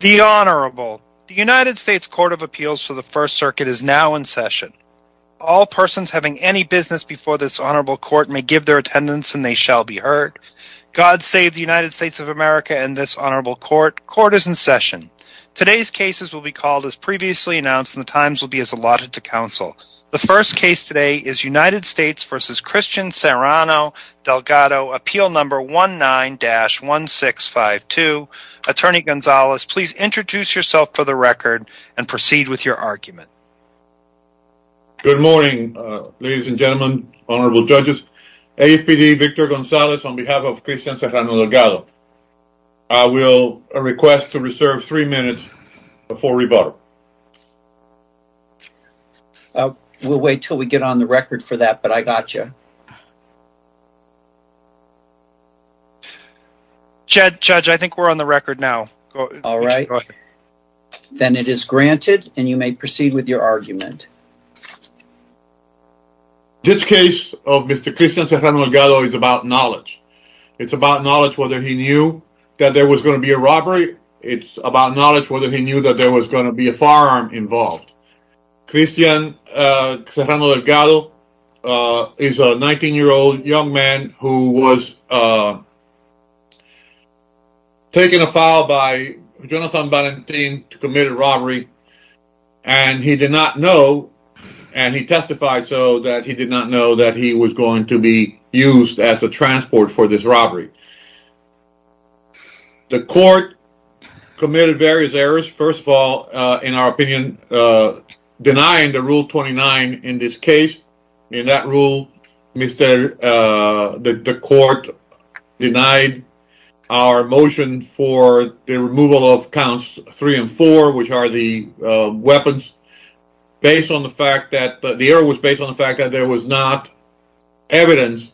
The Honorable. The United States Court of Appeals for the First Circuit is now in session. All persons having any business before this Honorable Court may give their attendance and they shall be heard. God save the United States of America and this Honorable Court. Court is in session. Today's cases will be called as previously announced and the times will be as allotted to counsel. The first case today is United States v. Christian Serrano-Delgado, Appeal No. 19-1652. Attorney Gonzalez, please introduce yourself for the record and proceed with your argument. Good morning, ladies and gentlemen, Honorable Judges. AFPD Victor Gonzalez on behalf of Christian Serrano-Delgado. I will request to reserve three minutes for rebuttal. We'll wait till we get on the record for that, but I got you. Judge, I think we're on the record now. All right, then it is granted and you may proceed with your argument. This case of Mr. Christian Serrano-Delgado is about knowledge. It's about knowledge whether he knew that there was going to be a robbery. It's about knowledge whether he knew that there was going to be a firearm involved. Christian Serrano-Delgado is a 19-year-old young man who was taken afoul by Jonas San Valentin to commit a robbery and he did not know and he testified so that he did not know that he was going to be used as a transport for this robbery. The court committed various errors. First of all, in our opinion, denying the Rule 29 in this case. In that rule, the court denied our motion for the removal of counts three and four, which are the weapons. The error was based on the fact that there was not evidence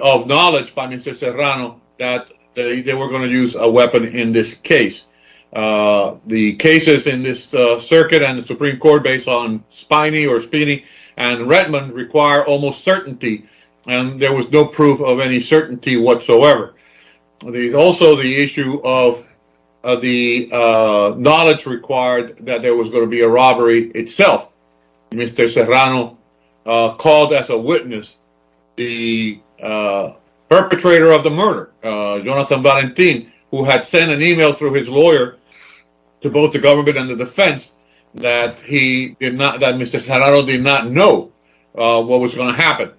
of knowledge by Mr. Serrano that they were going to use a weapon in this case. The cases in this circuit and the Supreme Court based on Spiney or Spiney and Rettman require almost certainty and there was no proof of any certainty whatsoever. Also, the issue of the knowledge required that there was going to itself. Mr. Serrano called as a witness the perpetrator of the murder, Jonas San Valentin, who had sent an email through his lawyer to both the government and the defense that Mr. Serrano did not know what was going to happen.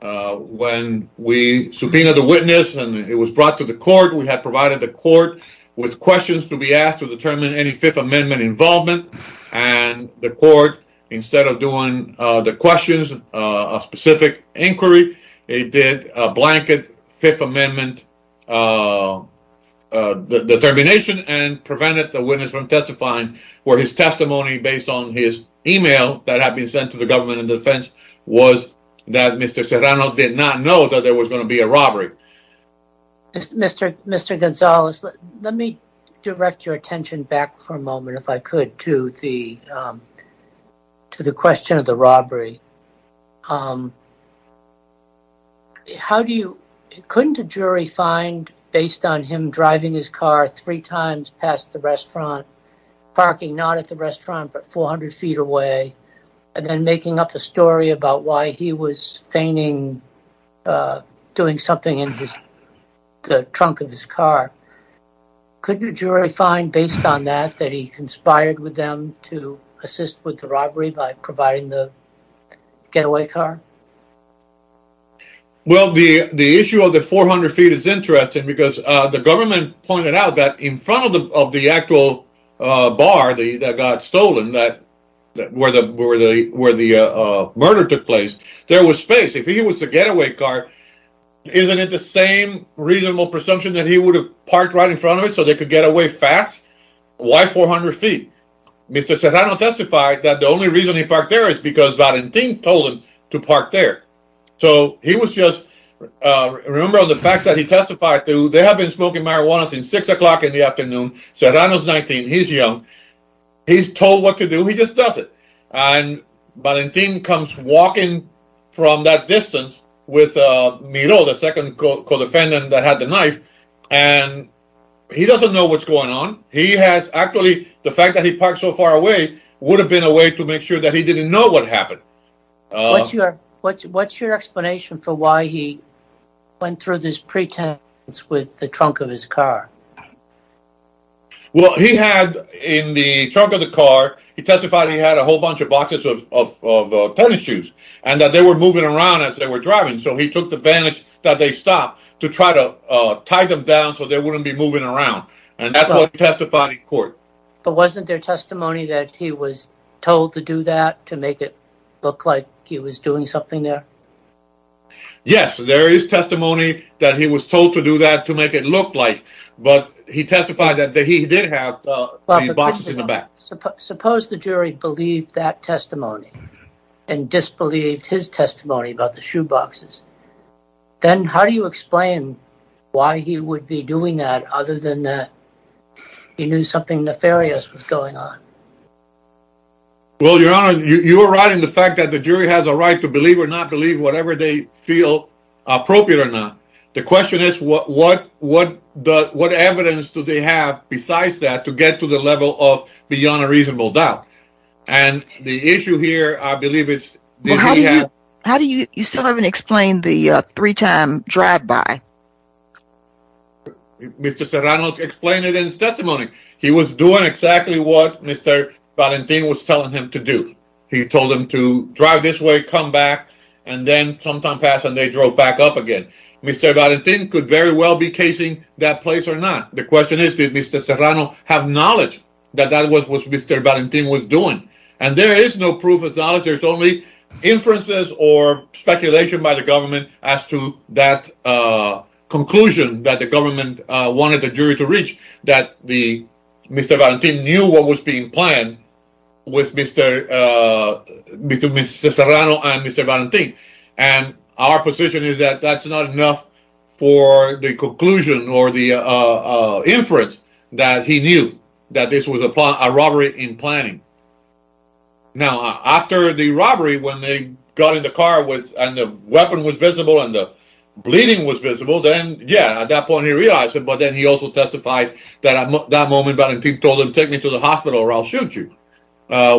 When we subpoenaed the witness and it was brought to the court, we had provided the court with questions to be asked to determine any Fifth Amendment involvement and the court, instead of doing the questions of specific inquiry, it did a blanket Fifth Amendment determination and prevented the witness from testifying where his testimony based on his email that had been sent to the government and defense was that Mr. Serrano did not know that there was going to be a robbery. Mr. Gonzalez, let me direct your attention back for a moment. To the question of the robbery, couldn't a jury find based on him driving his car three times past the restaurant, parking not at the restaurant but 400 feet away and then making up a story about why he was feigning doing something in the trunk of his car, couldn't a jury find based on that he conspired with them to assist with the robbery by providing the getaway car? Well, the issue of the 400 feet is interesting because the government pointed out that in front of the actual bar that got stolen, where the murder took place, there was space. If he was the getaway car, isn't it the same reasonable presumption that he would have parked right in front of the restaurant? Mr. Serrano testified that the only reason he parked there is because Valentin told him to park there. So he was just, remember the facts that he testified to, they have been smoking marijuana since six o'clock in the afternoon, Serrano's 19, he's young, he's told what to do, he just does it. And Valentin comes walking from that distance with Miro, the second co-defendant that had the knife, and he doesn't know what's going on. He has actually, the fact that he parked so far away would have been a way to make sure that he didn't know what happened. What's your explanation for why he went through this pretense with the trunk of his car? Well, he had in the trunk of the car, he testified he had a whole bunch of boxes of tennis shoes, and that they were moving around as they were driving. So he took the advantage that they stopped to try to tie them down so they wouldn't be moving around. And that's what he testified in court. But wasn't there testimony that he was told to do that to make it look like he was doing something there? Yes, there is testimony that he was told to do that to make it look like, but he testified that he did have the boxes in the back. Suppose the jury believed that testimony and disbelieved his testimony about the shoeboxes, then how do you explain why he would be doing that other than that he knew something nefarious was going on? Well, Your Honor, you're right in the fact that the jury has a right to believe or not believe whatever they feel appropriate or not. The question is what evidence do they have besides that to get to the level of beyond a reasonable doubt? And the issue here, I believe it's... How do you still haven't explained the three-time drive-by? Mr. Serrano explained it in his testimony. He was doing exactly what Mr. Valentin was telling him to do. He told him to drive this way, come back, and then sometime passed and they drove back up again. Mr. Valentin could very well be casing that place or not. The question is, did Mr. Serrano have knowledge that that was what Mr. Valentin was doing? And there is no proof of knowledge. There's only inferences or speculation by the government as to that conclusion that the government wanted the jury to reach that Mr. Valentin knew what was being planned with Mr. Serrano and Mr. Valentin. And our position is that that's not enough for the inference that he knew that this was a robbery in planning. Now, after the robbery, when they got in the car and the weapon was visible and the bleeding was visible, then yeah, at that point, he realized it. But then he also testified that at that moment, Mr. Valentin told him, take me to the hospital or I'll shoot you,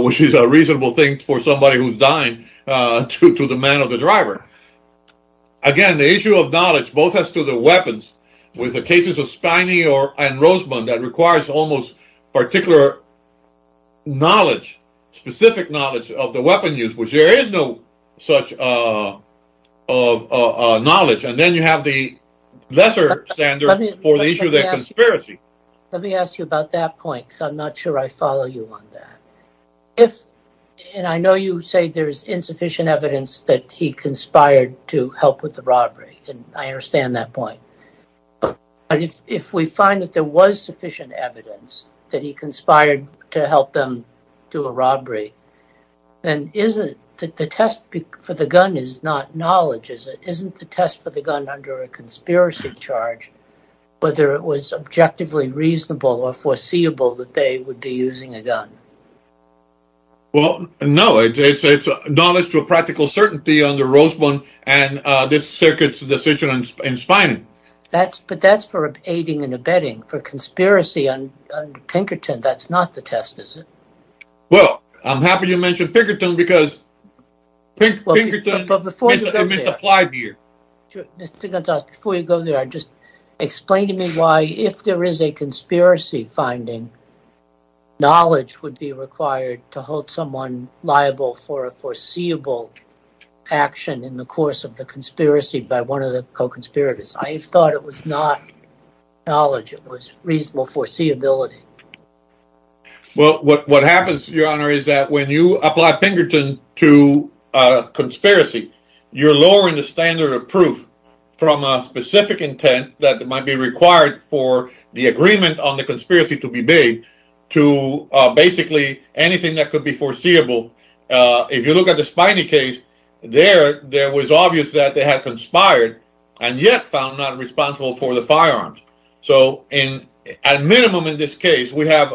which is a reasonable thing for somebody who's dying to the man or the driver. Again, the issue of knowledge, both as to the weapons with the cases of Spiney and Roseman, that requires almost particular knowledge, specific knowledge of the weapon use, which there is no such knowledge. And then you have the lesser standard for the issue of the conspiracy. Let me ask you about that point, because I'm not sure I follow you on that. If, and I know you say there's insufficient evidence that he conspired to help with the but if we find that there was sufficient evidence that he conspired to help them do a robbery, then isn't that the test for the gun is not knowledge, is it? Isn't the test for the gun under a conspiracy charge, whether it was objectively reasonable or foreseeable that they would be using a gun? Well, no, it's a knowledge to a practical certainty on the but that's for aiding and abetting for conspiracy on Pinkerton. That's not the test, is it? Well, I'm happy you mentioned Pinkerton because Pinkerton is a misapplied here. Mr. Gonzalez, before you go there, just explain to me why if there is a conspiracy finding, knowledge would be required to hold someone liable for a foreseeable action in the course of the conspiracy by one of the co-conspirators. I thought it was not knowledge, it was reasonable foreseeability. Well, what happens, your honor, is that when you apply Pinkerton to a conspiracy, you're lowering the standard of proof from a specific intent that might be required for the agreement on the conspiracy to be big to basically anything that could be foreseeable. If you look at the case there, there was obvious that they had conspired and yet found not responsible for the firearms. So in a minimum, in this case, we have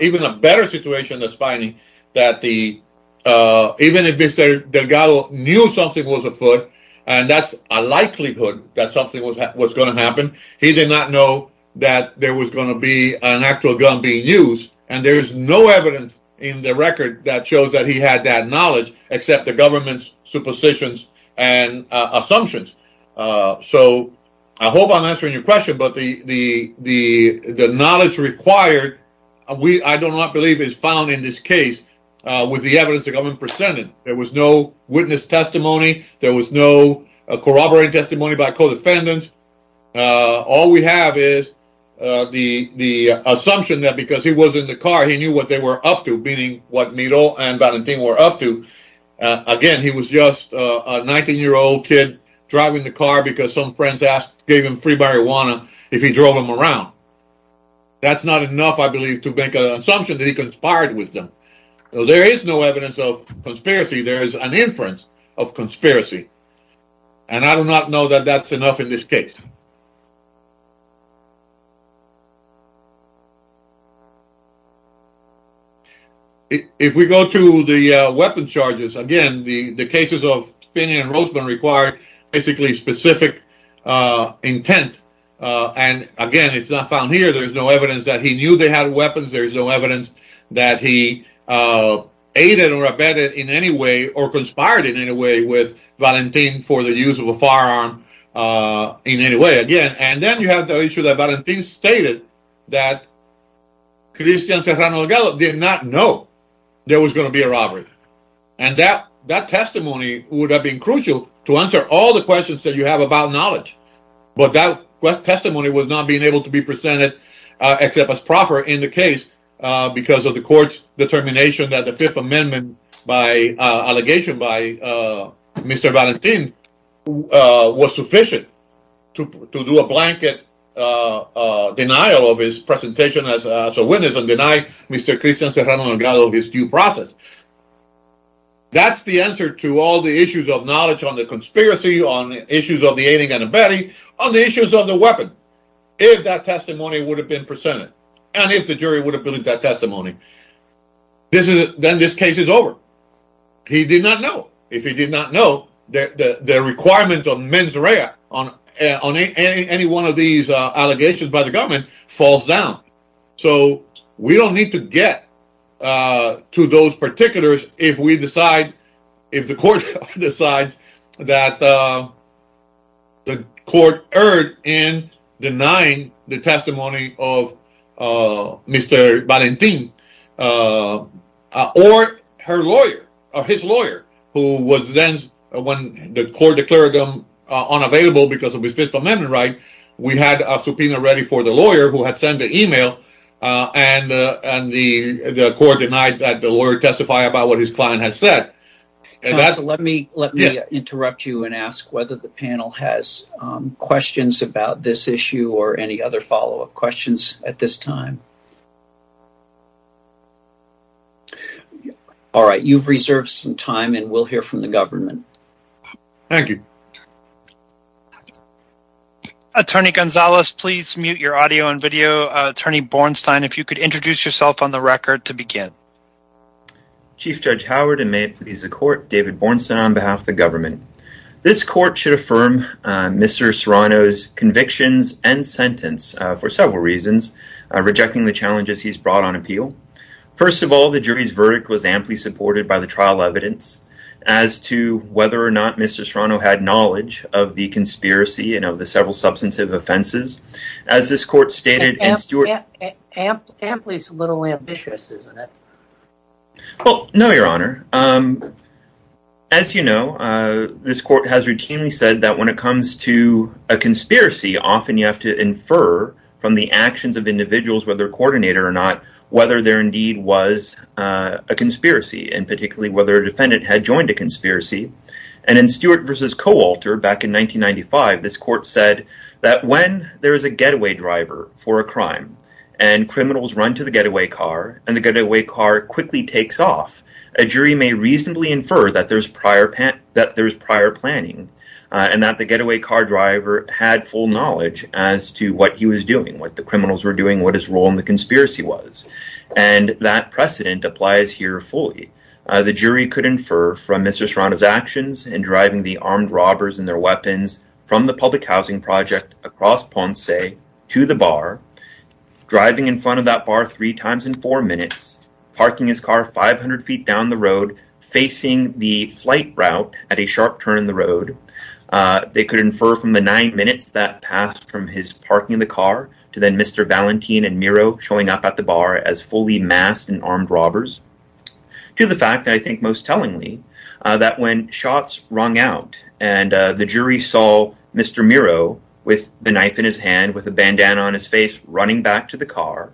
even a better situation that's finding that the even if Mr. Delgado knew something was afoot and that's a likelihood that something was going to happen. He did not know that there was going to be an actual gun being used and there is no evidence in the record that shows that he had that knowledge except the government's suppositions and assumptions. So I hope I'm answering your question, but the knowledge required, I do not believe is found in this case with the evidence the government presented. There was no witness testimony, there was no corroborating testimony by co-defendants. All we have is the assumption that because he was in the car, he knew what they were up to, meaning what Miro and Valentino were up to. Again, he was just a 19-year-old kid driving the car because some friends gave him free marijuana if he drove him around. That's not enough, I believe, to make an assumption that he conspired with them. There is no evidence of conspiracy, there is an inference of conspiracy and I do not know that that's enough in this case. If we go to the weapon charges, again, the cases of Spiney and Roseman require basically specific intent and again, it's not found here. There's no evidence that he knew they had weapons, there's no evidence that he aided or abetted in any way or conspired in any way with Valentino for the use of a firearm in any way. Again, and then you have the issue that Valentino stated that he had that Cristian Serrano Aguero did not know there was going to be a robbery and that testimony would have been crucial to answer all the questions that you have about knowledge, but that testimony was not being able to be presented except as proper in the case because of the court's determination that the Fifth Amendment by allegation by Mr. Valentino was sufficient to do a blanket denial of his presentation as a witness and deny Mr. Cristian Serrano Aguero of his due process. That's the answer to all the issues of knowledge on the conspiracy, on the issues of the aiding and abetting, on the issues of the weapon. If that testimony would have been presented and if the jury would have believed that testimony, then this case is over. He did not know. If he did not know, the requirements of mens rea on any one of these allegations by the government falls down. So, we don't need to get to those particulars if we decide, if the court decides that the court erred in denying the testimony or his lawyer who was then, when the court declared him unavailable because of his Fifth Amendment right, we had a subpoena ready for the lawyer who had sent the email and the court denied that the lawyer testified about what his client had said. Counsel, let me interrupt you and ask whether the panel has questions about this issue or any other follow-up questions at this time. All right. You've reserved some time and we'll hear from the government. Thank you. Attorney Gonzalez, please mute your audio and video. Attorney Bornstein, if you could introduce yourself on the record to begin. Chief Judge Howard and may it please the court, David Bornstein on behalf of the government. This court should affirm Mr. Serrano's convictions and sentence for several reasons, rejecting the challenges he's brought on appeal. First of all, the jury's verdict was amply supported by the trial evidence as to whether or not Mr. Serrano had knowledge of the conspiracy and of the several substantive offenses. As this court stated... Amply is a little ambitious, isn't it? Well, no, your honor. As you know, this court has routinely said that when it comes to a conspiracy, often you have to infer from the actions of individuals, whether coordinator or not, whether there indeed was a conspiracy and particularly whether a defendant had joined a conspiracy. And in Stewart versus Coalter back in 1995, this court said that when there is a getaway driver for a crime and criminals run to the getaway car and the getaway car quickly takes off, a jury may reasonably infer that there's prior planning and that the getaway car driver had full knowledge as to what he was doing, what the criminals were doing, what his role in the conspiracy was. And that precedent applies here fully. The jury could infer from Mr. Serrano's actions in driving the armed robbers and their weapons from the public housing project across Ponce to the bar, driving in front of that bar three times in four minutes, parking his car 500 feet down the road, facing the flight route at a sharp turn in the road. They could infer from the nine minutes that passed from his parking the car to then Mr. Valentin and Miro showing up at the bar as fully masked and armed robbers to the fact that I think most tellingly that when shots rung out and the jury saw Mr. Miro with the knife in his hand, with a bandana on his face, running back to the car.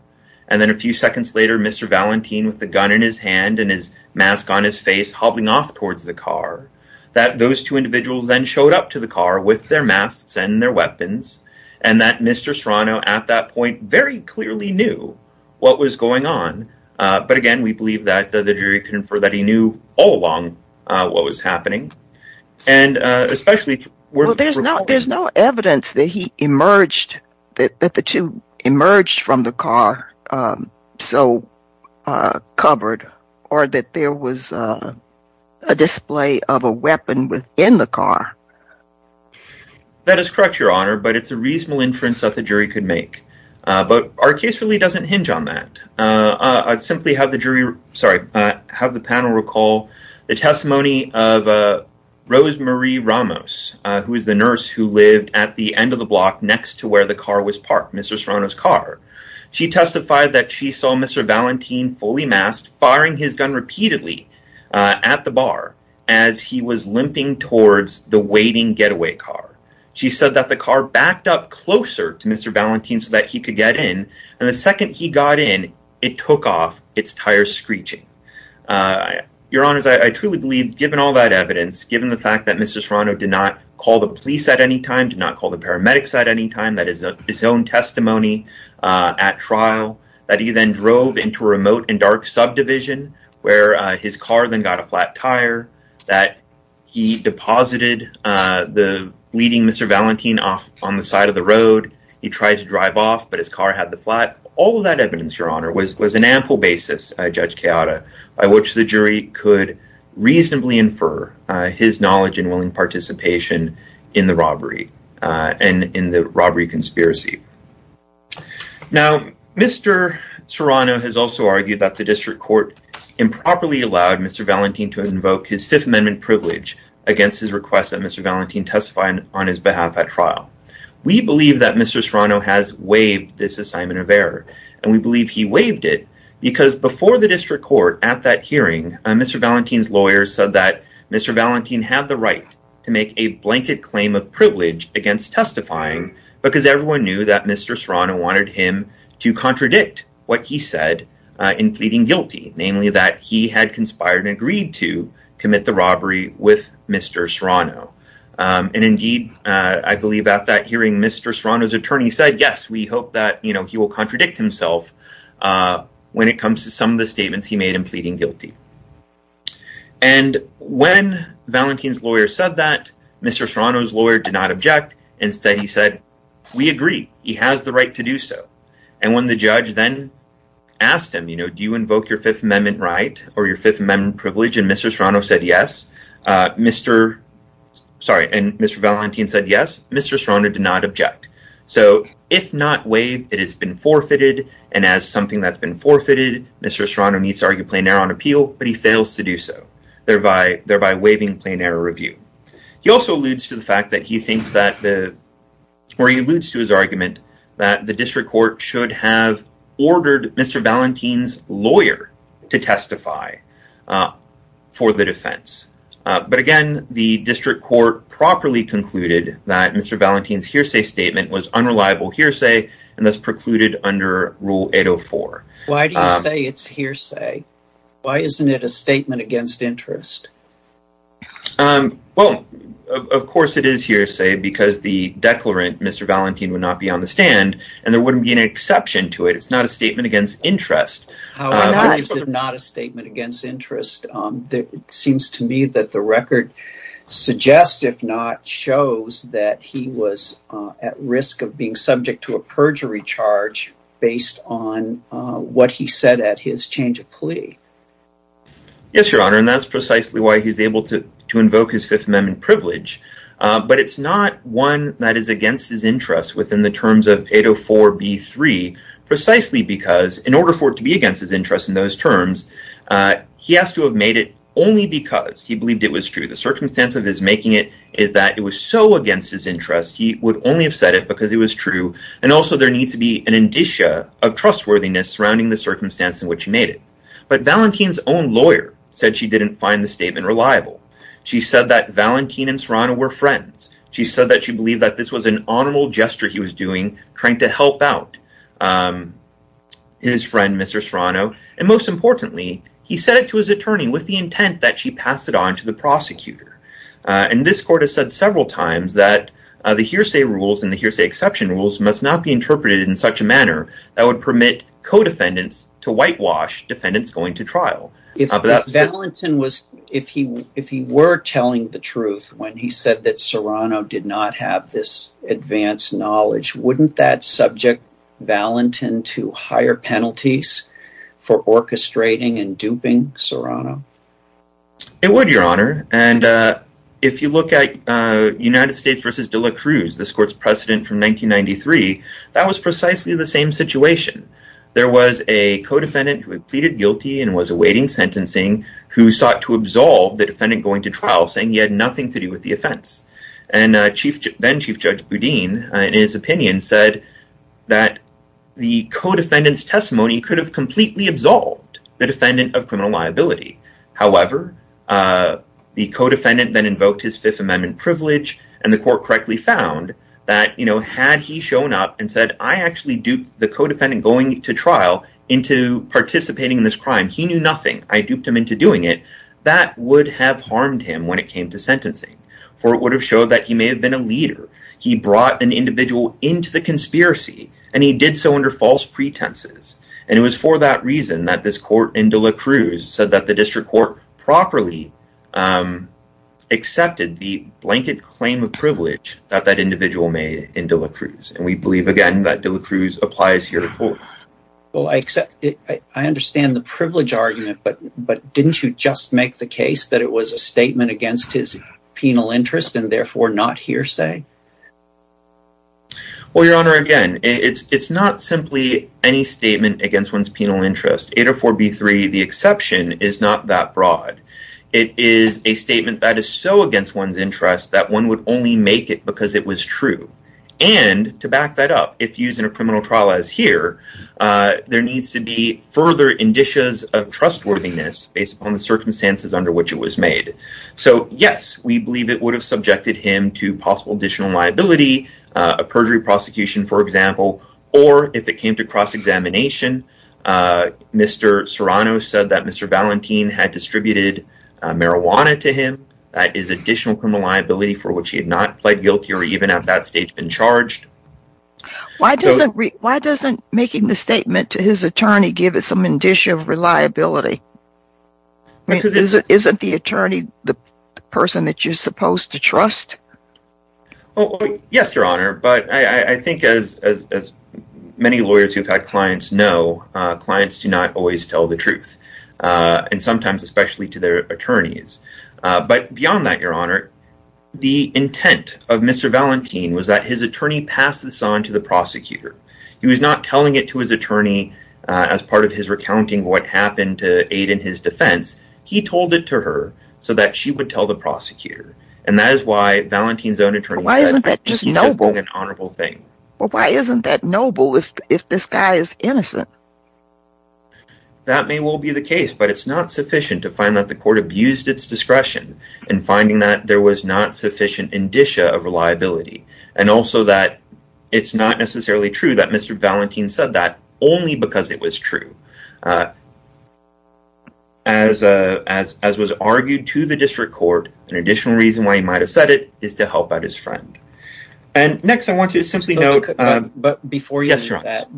And then a few seconds later, Mr. Valentin with the gun in his hand and his mask on his face, hobbling off towards the car, that those two individuals then showed up to the car with their masks and their weapons. And that Mr. Serrano at that point very clearly knew what was going on. But again, we believe that the jury can infer that he knew all along what was happening and especially... Well, there's no evidence that he emerged, that the two emerged from the car so covered or that there was a display of a weapon within the car. That is correct, Your Honor, but it's a reasonable inference that the jury could make. But our case really doesn't hinge on that. I'd simply have the jury, sorry, have the panel recall the testimony of Rose Marie Ramos, who is the nurse who lived at the end of the block next to where the car was parked, Mr. Serrano's car. She testified that she saw Mr. Valentin fully masked, firing his gun repeatedly at the bar as he was limping towards the waiting getaway car. She said that the car backed up closer to Mr. Valentin so that he could get in. And the second he got in, it took off, its tires screeching. Your Honor, I truly believe, given all that evidence, given the fact that Mr. Serrano did not call the police at any time, did not call the paramedics at any time, that is his own testimony at trial, that he then drove into a remote and dark subdivision where his car then got a flat tire, that he deposited the bleeding Mr. Valentin off on the side of the road. He tried to drive off, but his car had the flat. All of that evidence, Your Honor, was an ample basis, Judge Chiara, by which the jury could reasonably infer his knowledge and willing participation in the robbery and in the robbery conspiracy. Now, Mr. Serrano has also argued that the district court improperly allowed Mr. Valentin to invoke his Fifth Amendment privilege against his request that Mr. Valentin testify on his behalf at trial. We believe that Mr. Serrano has waived this assignment of error, and we believe he waived it because before the district court at that hearing, Mr. Valentin's lawyer said that Mr. Valentin had the right to make a blanket claim of privilege against testifying because everyone knew that Mr. Serrano wanted him to contradict what he said in pleading guilty, namely that he had conspired and agreed to commit the robbery with Mr. Serrano. Indeed, I believe at that hearing, Mr. Serrano's attorney said, yes, we hope that he will contradict himself when it comes to some of the statements he made in pleading guilty. And when Valentin's lawyer said that, Mr. Serrano's lawyer did not object. Instead, he said, we agree. He has the right to do so. And when the judge then asked him, do you invoke your Fifth Amendment right or your Fifth Amendment privilege? And Mr. Serrano said yes. And Mr. Valentin said yes. Mr. Serrano did not object. So if not waived, it has been forfeited, and as something that's been forfeited, Mr. Serrano needs to argue plain error on appeal, but he fails to do so, thereby waiving plain error review. He also alludes to the fact that he thinks that the, or he alludes to his argument that the district court should have ordered Mr. Valentin's lawyer to testify for the defense. But again, the district court properly concluded that Mr. Valentin's hearsay statement was unreliable hearsay and thus precluded under Rule 804. Why do you say it's hearsay? Why isn't it a statement against interest? Well, of course it is hearsay because the declarant, Mr. Valentin, would not be on the stand and there wouldn't be an exception to it. It's not a statement against interest. How is it not a statement against interest? It seems to me that the record suggests, if not shows, that he was at risk of being subject to a perjury charge based on what he said at his change of plea. Yes, Your Honor, and that's precisely why he's able to invoke his Fifth Amendment privilege. But it's not one that is against his interest within the terms of 804b3, precisely because in order for it to be against his interest in those terms, he has to have made it only because he believed it was true. The circumstance of his making it is that it was so against his interest, he would only have said it because it was true, and also there needs to be an indicia of trustworthiness surrounding the circumstance in which he made it. But Valentin's own lawyer said she didn't find the statement reliable. She said that Valentin and Serrano were friends. She said that she believed that this was an honorable gesture he was doing, trying to help out his friend, Mr. Serrano, and most importantly, he said it to his attorney with the intent that she pass it on to the trial. If Valentin was, if he were telling the truth when he said that Serrano did not have this advanced knowledge, wouldn't that subject Valentin to higher penalties for orchestrating and duping Serrano? It would, your honor, and if you look at United States v. De La Cruz, this court's precedent from 1993, that was precisely the same situation. There was a co-defendant who had pleaded guilty and was awaiting sentencing, who sought to absolve the defendant going to trial, saying he had nothing to do with the offense, and then-Chief Judge Boudin, in his opinion, said that the co-defendant's testimony could have completely absolved the defendant of criminal liability. However, the co-defendant then invoked his Fifth Amendment privilege, and the court correctly found that, you know, had he shown up and said, I actually duped the co-defendant going to trial into participating in this crime. He knew nothing. I duped him into doing it. That would have harmed him when it came to sentencing, for it would have showed that he may have been a leader. He brought an individual into the conspiracy, and he did so under false pretenses, and it was for that reason that this court in De La Cruz said that the district court properly accepted the blanket claim of privilege that that individual made in De La Cruz, and we believe, again, that De La Cruz applies herefore. Well, I accept it. I understand the privilege argument, but didn't you just make the case that it was a statement against his penal interest and therefore not hearsay? Well, Your Honor, again, it's not simply any statement against one's penal interest. 804b3, the exception, is not that broad. It is a statement that is so against one's interest that one would only make it because it was true, and to back that up, if used in a criminal trial as here, there needs to be further indicias of trustworthiness based upon the circumstances under which it was made. So, yes, we believe it would have subjected him to possible additional liability, a perjury prosecution, for example, or if it came to cross-examination, Mr. Serrano said that Mr. Valentin had distributed marijuana to him. That is additional criminal liability for which he had not pled guilty or even at that stage been charged. Why doesn't making the statement to Mr. Valentin have any reliability? I mean, isn't the attorney the person that you're supposed to trust? Oh, yes, Your Honor, but I think as many lawyers who've had clients know, clients do not always tell the truth, and sometimes especially to their attorneys, but beyond that, Your Honor, the intent of Mr. Valentin was that his attorney passed this on to the prosecutor. He was not telling it to his attorney as part of his recounting what happened to aid in his defense. He told it to her so that she would tell the prosecutor, and that is why Valentin's own attorney said he just did an honorable thing. Well, why isn't that noble if this guy is innocent? That may well be the case, but it's not sufficient to find that the court abused its discretion in finding that there was not sufficient indicia of reliability, and also that it's not necessarily true that Mr. Valentin said that only because it was true. As was argued to the district court, an additional reason why he might have said it is to help out his friend, and next I want you to simply note... But before you do that,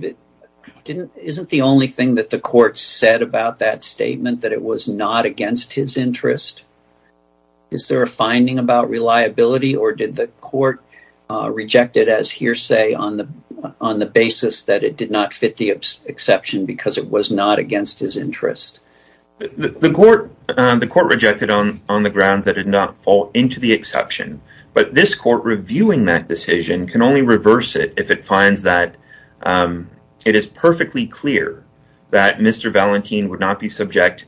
isn't the only thing that the court said about that statement that it was not against his interest? Is there a finding about reliability, or did the court reject it as hearsay on the basis that it did not fit the exception because it was not against his interest? The court rejected on the grounds that it did not fall into the exception, but this court reviewing that decision can only reverse it if it finds that it is perfectly clear that Mr. Valentin would not be had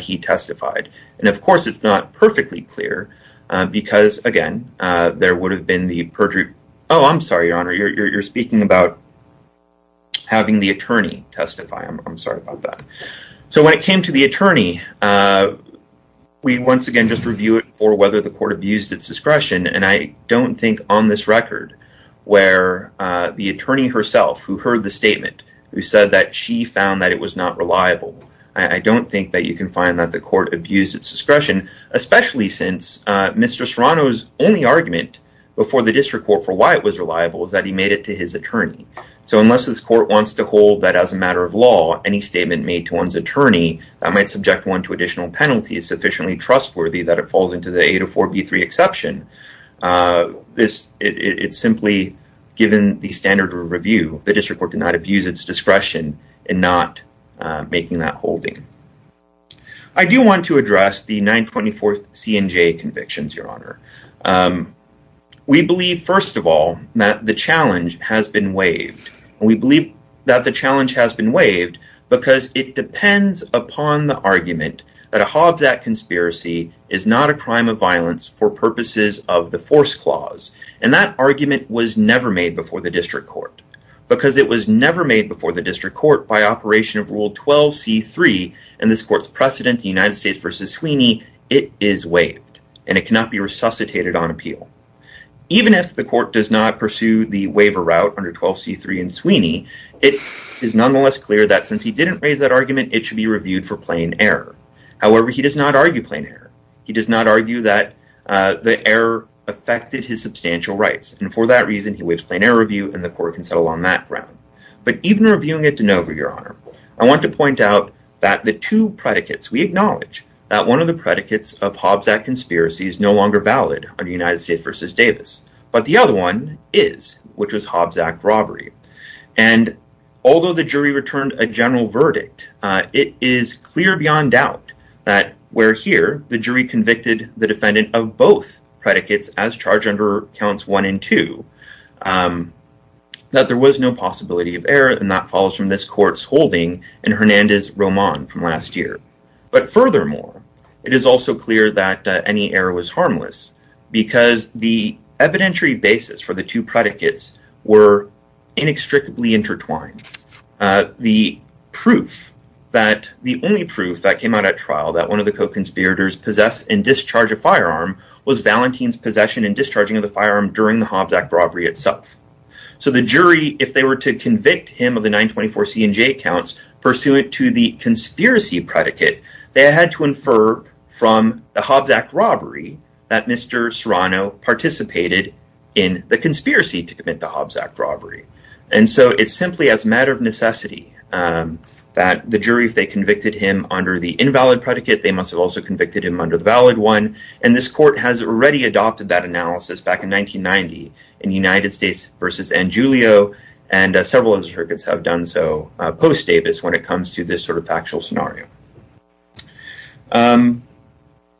he testified, and of course it's not perfectly clear because, again, there would have been the perjury... Oh, I'm sorry, Your Honor. You're speaking about having the attorney testify. I'm sorry about that. So when it came to the attorney, we once again just review it for whether the court abused its discretion, and I don't think on this record where the attorney herself who heard the statement who said that she found that it was not reliable, I don't think that you can find that the court abused its discretion, especially since Mr. Serrano's only argument before the district court for why it was reliable is that he made it to his attorney. So unless this court wants to hold that as a matter of law, any statement made to one's attorney that might subject one to additional penalties sufficiently trustworthy that it falls into the 804b3 exception, it's simply given the standard of review. The district court did not abuse its discretion in that holding. I do want to address the 924th C&J convictions, Your Honor. We believe, first of all, that the challenge has been waived, and we believe that the challenge has been waived because it depends upon the argument that a Hobbs Act conspiracy is not a crime of violence for purposes of the force clause, and that argument was never made before the district court by operation of Rule 12c3, and this court's precedent, the United States versus Sweeney, it is waived, and it cannot be resuscitated on appeal. Even if the court does not pursue the waiver route under 12c3 and Sweeney, it is nonetheless clear that since he didn't raise that argument, it should be reviewed for plain error. However, he does not argue plain error. He does not argue that the error affected his substantial rights, and for that reason, he waives plain error review, and the court can settle on that ground, but even reviewing it de novo, Your Honor, I want to point out that the two predicates, we acknowledge that one of the predicates of Hobbs Act conspiracy is no longer valid under United States versus Davis, but the other one is, which was Hobbs Act robbery, and although the jury returned a general verdict, it is clear beyond doubt that where here the jury convicted the defendant of both predicates as under counts one and two, that there was no possibility of error, and that follows from this court's holding in Hernandez-Román from last year, but furthermore, it is also clear that any error was harmless because the evidentiary basis for the two predicates were inextricably intertwined. The proof that the only proof that came out at trial that one of the co-conspirators possessed and discharged a firearm was Valentin's possession and discharging of the firearm during the Hobbs Act robbery itself, so the jury, if they were to convict him of the 924C and J counts pursuant to the conspiracy predicate, they had to infer from the Hobbs Act robbery that Mr. Serrano participated in the conspiracy to commit the Hobbs Act robbery, and so it's simply as a matter of necessity that the jury, if they convicted him under the invalid predicate, they must have also convicted him under the valid one, and this court has already adopted that analysis back in 1990 in United States versus Angiulio, and several other circuits have done so post-Davis when it comes to this sort of factual scenario.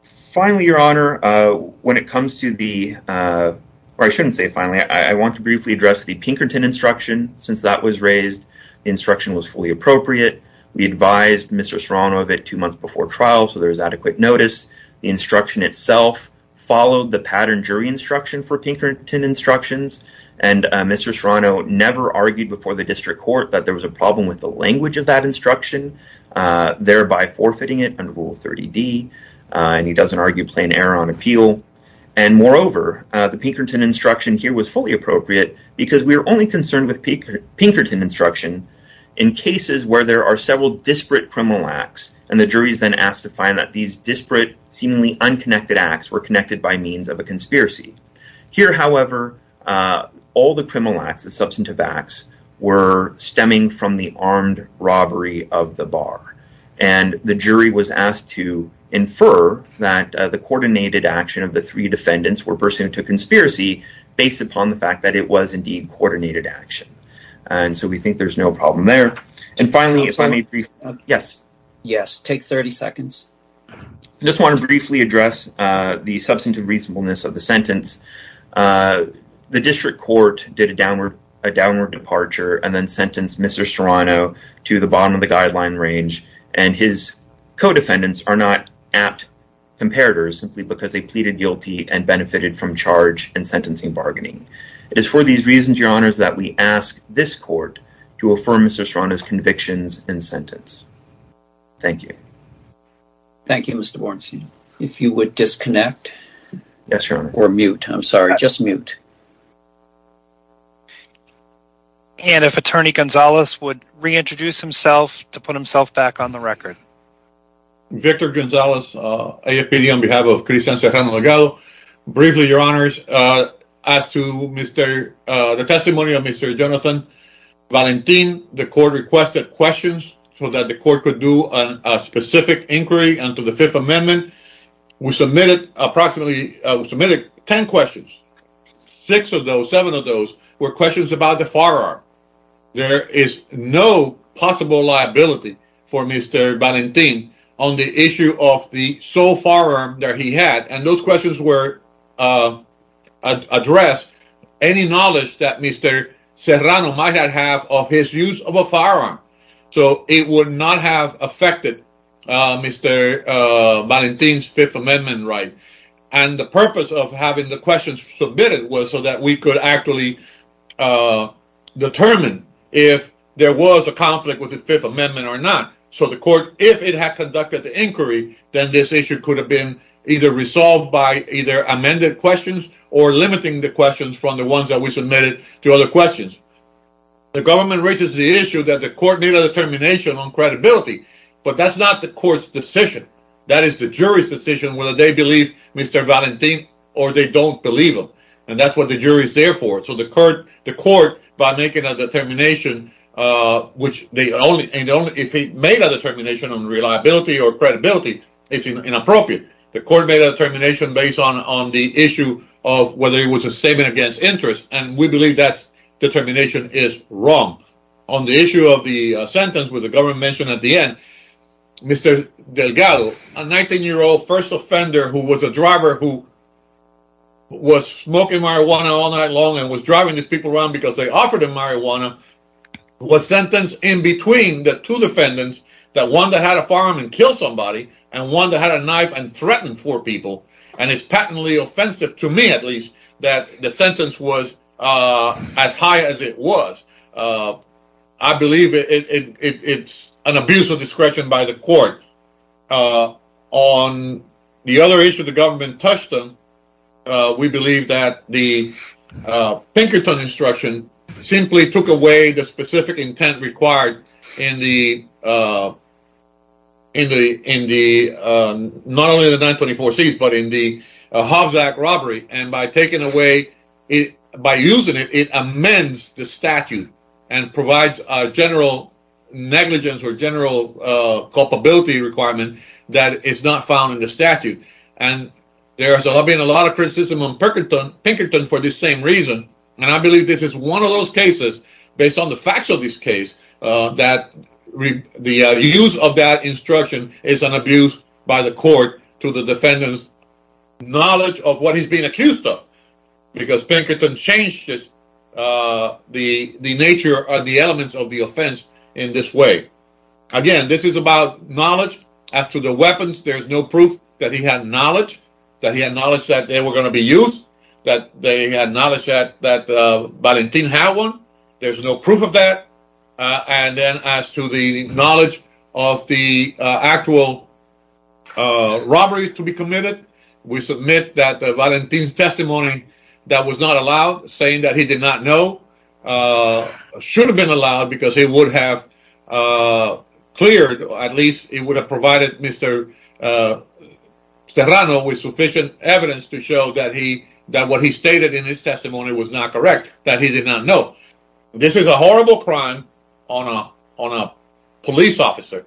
Finally, Your Honor, when it comes to the, or I shouldn't say finally, I want to briefly address the Pinkerton instruction. Since that was raised, the instruction was fully appropriate. We advised Mr. Serrano of it two there's adequate notice. The instruction itself followed the pattern jury instruction for Pinkerton instructions, and Mr. Serrano never argued before the district court that there was a problem with the language of that instruction, thereby forfeiting it under Rule 30D, and he doesn't argue plain error on appeal, and moreover, the Pinkerton instruction here was fully appropriate because we were only concerned with Pinkerton instruction in cases where there are several disparate criminal acts, and the jury is then asked to find that these disparate, seemingly unconnected acts were connected by means of a conspiracy. Here, however, all the criminal acts, the substantive acts, were stemming from the armed robbery of the bar, and the jury was asked to infer that the coordinated action of the three defendants were pursuant to conspiracy based upon the fact that it was indeed coordinated action, and so we think there's no problem there. And finally, if I may, yes. Yes, take 30 seconds. I just want to briefly address the substantive reasonableness of the sentence. The district court did a downward departure and then sentenced Mr. Serrano to the bottom of the guideline range, and his co-defendants are not apt comparators simply because they pleaded guilty and benefited from charge and sentencing bargaining. It is for these reasons, your honors, that we ask this court to affirm Mr. Serrano's convictions and sentence. Thank you. Thank you, Mr. Bornstein. If you would disconnect or mute, I'm sorry, just mute. And if attorney Gonzalez would reintroduce himself to put himself back on the record. Victor Gonzalez, AFPD, on behalf of Chris and Serrano Legado. Briefly, your honors, as to the testimony of Mr. Jonathan Valentin, the court requested questions so that the court could do a specific inquiry and to the Fifth Amendment. We submitted approximately 10 questions. Six of those, seven of those, were questions about the firearm. There is no possible liability for Mr. Valentin on the issue of the sole firearm that he had, and those questions were addressed. Any knowledge that Mr. Serrano might not have of his use of a firearm, so it would not have affected Mr. Valentin's Fifth Amendment right. And the purpose of having the questions submitted was so that we could actually determine if there was a conflict with the Fifth Amendment or not. So the court, if it had conducted the inquiry, then this issue could have been either resolved by either amended questions or limiting the questions from the ones that we submitted to other questions. The government raises the issue that the court needed a determination on credibility, but that's not the court's decision. That is the jury's decision whether they believe Mr. Valentin or they don't believe him, and that's what the jury is there for. So the court, by making a determination, which they only, if he made a determination on reliability or credibility, it's inappropriate. The court made a determination based on the issue of whether it was a statement against interest, and we believe that determination is wrong. On the issue of the sentence with the government mentioned at the end, Mr. Delgado, a 19-year-old first offender who was a driver who was smoking marijuana all night long and was driving these people around because they offered him marijuana, was sentenced in between the two defendants, that one that had a firearm and killed somebody, and one that had a knife and threatened four people. And it's patently offensive, to me at least, that the sentence was as high as it was. I believe it's an abuse of discretion by the court. On the other issue, the government touched on, we believe that the Pinkerton instruction simply took away the specific intent required in the not only the 924 C's, but in the Hovzak robbery, and by taking away, by using it, it amends the general culpability requirement that is not found in the statute. And there's been a lot of criticism on Pinkerton for this same reason, and I believe this is one of those cases, based on the facts of this case, that the use of that instruction is an abuse by the court to the defendant's knowledge of what he's being accused of, because Pinkerton changed the nature or the elements of the offense in this way. Again, this is about knowledge, as to the weapons, there's no proof that he had knowledge, that he had knowledge that they were going to be used, that they had knowledge that Valentin had one, there's no proof of that. And then as to the knowledge of the actual robbery to be committed, we submit that Valentin's testimony that was not allowed, saying that he did not know, should have been allowed, because he would have cleared, at least he would have provided Mr. Serrano with sufficient evidence to show that he, that what he stated in his testimony was not correct, that he did not know. This is a horrible crime on a police officer.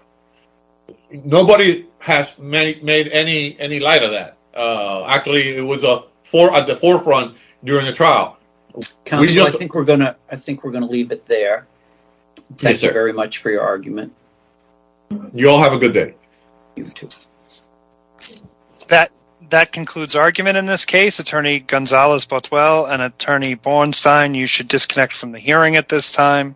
Nobody has made any light of that. Actually, it was at the forefront during the trial. I think we're going to leave it there. Thank you very much for your argument. You all have a good day. That concludes argument in this case. Attorney Gonzales-Bottwell and Attorney Bornstein, you should disconnect from the hearing at this time.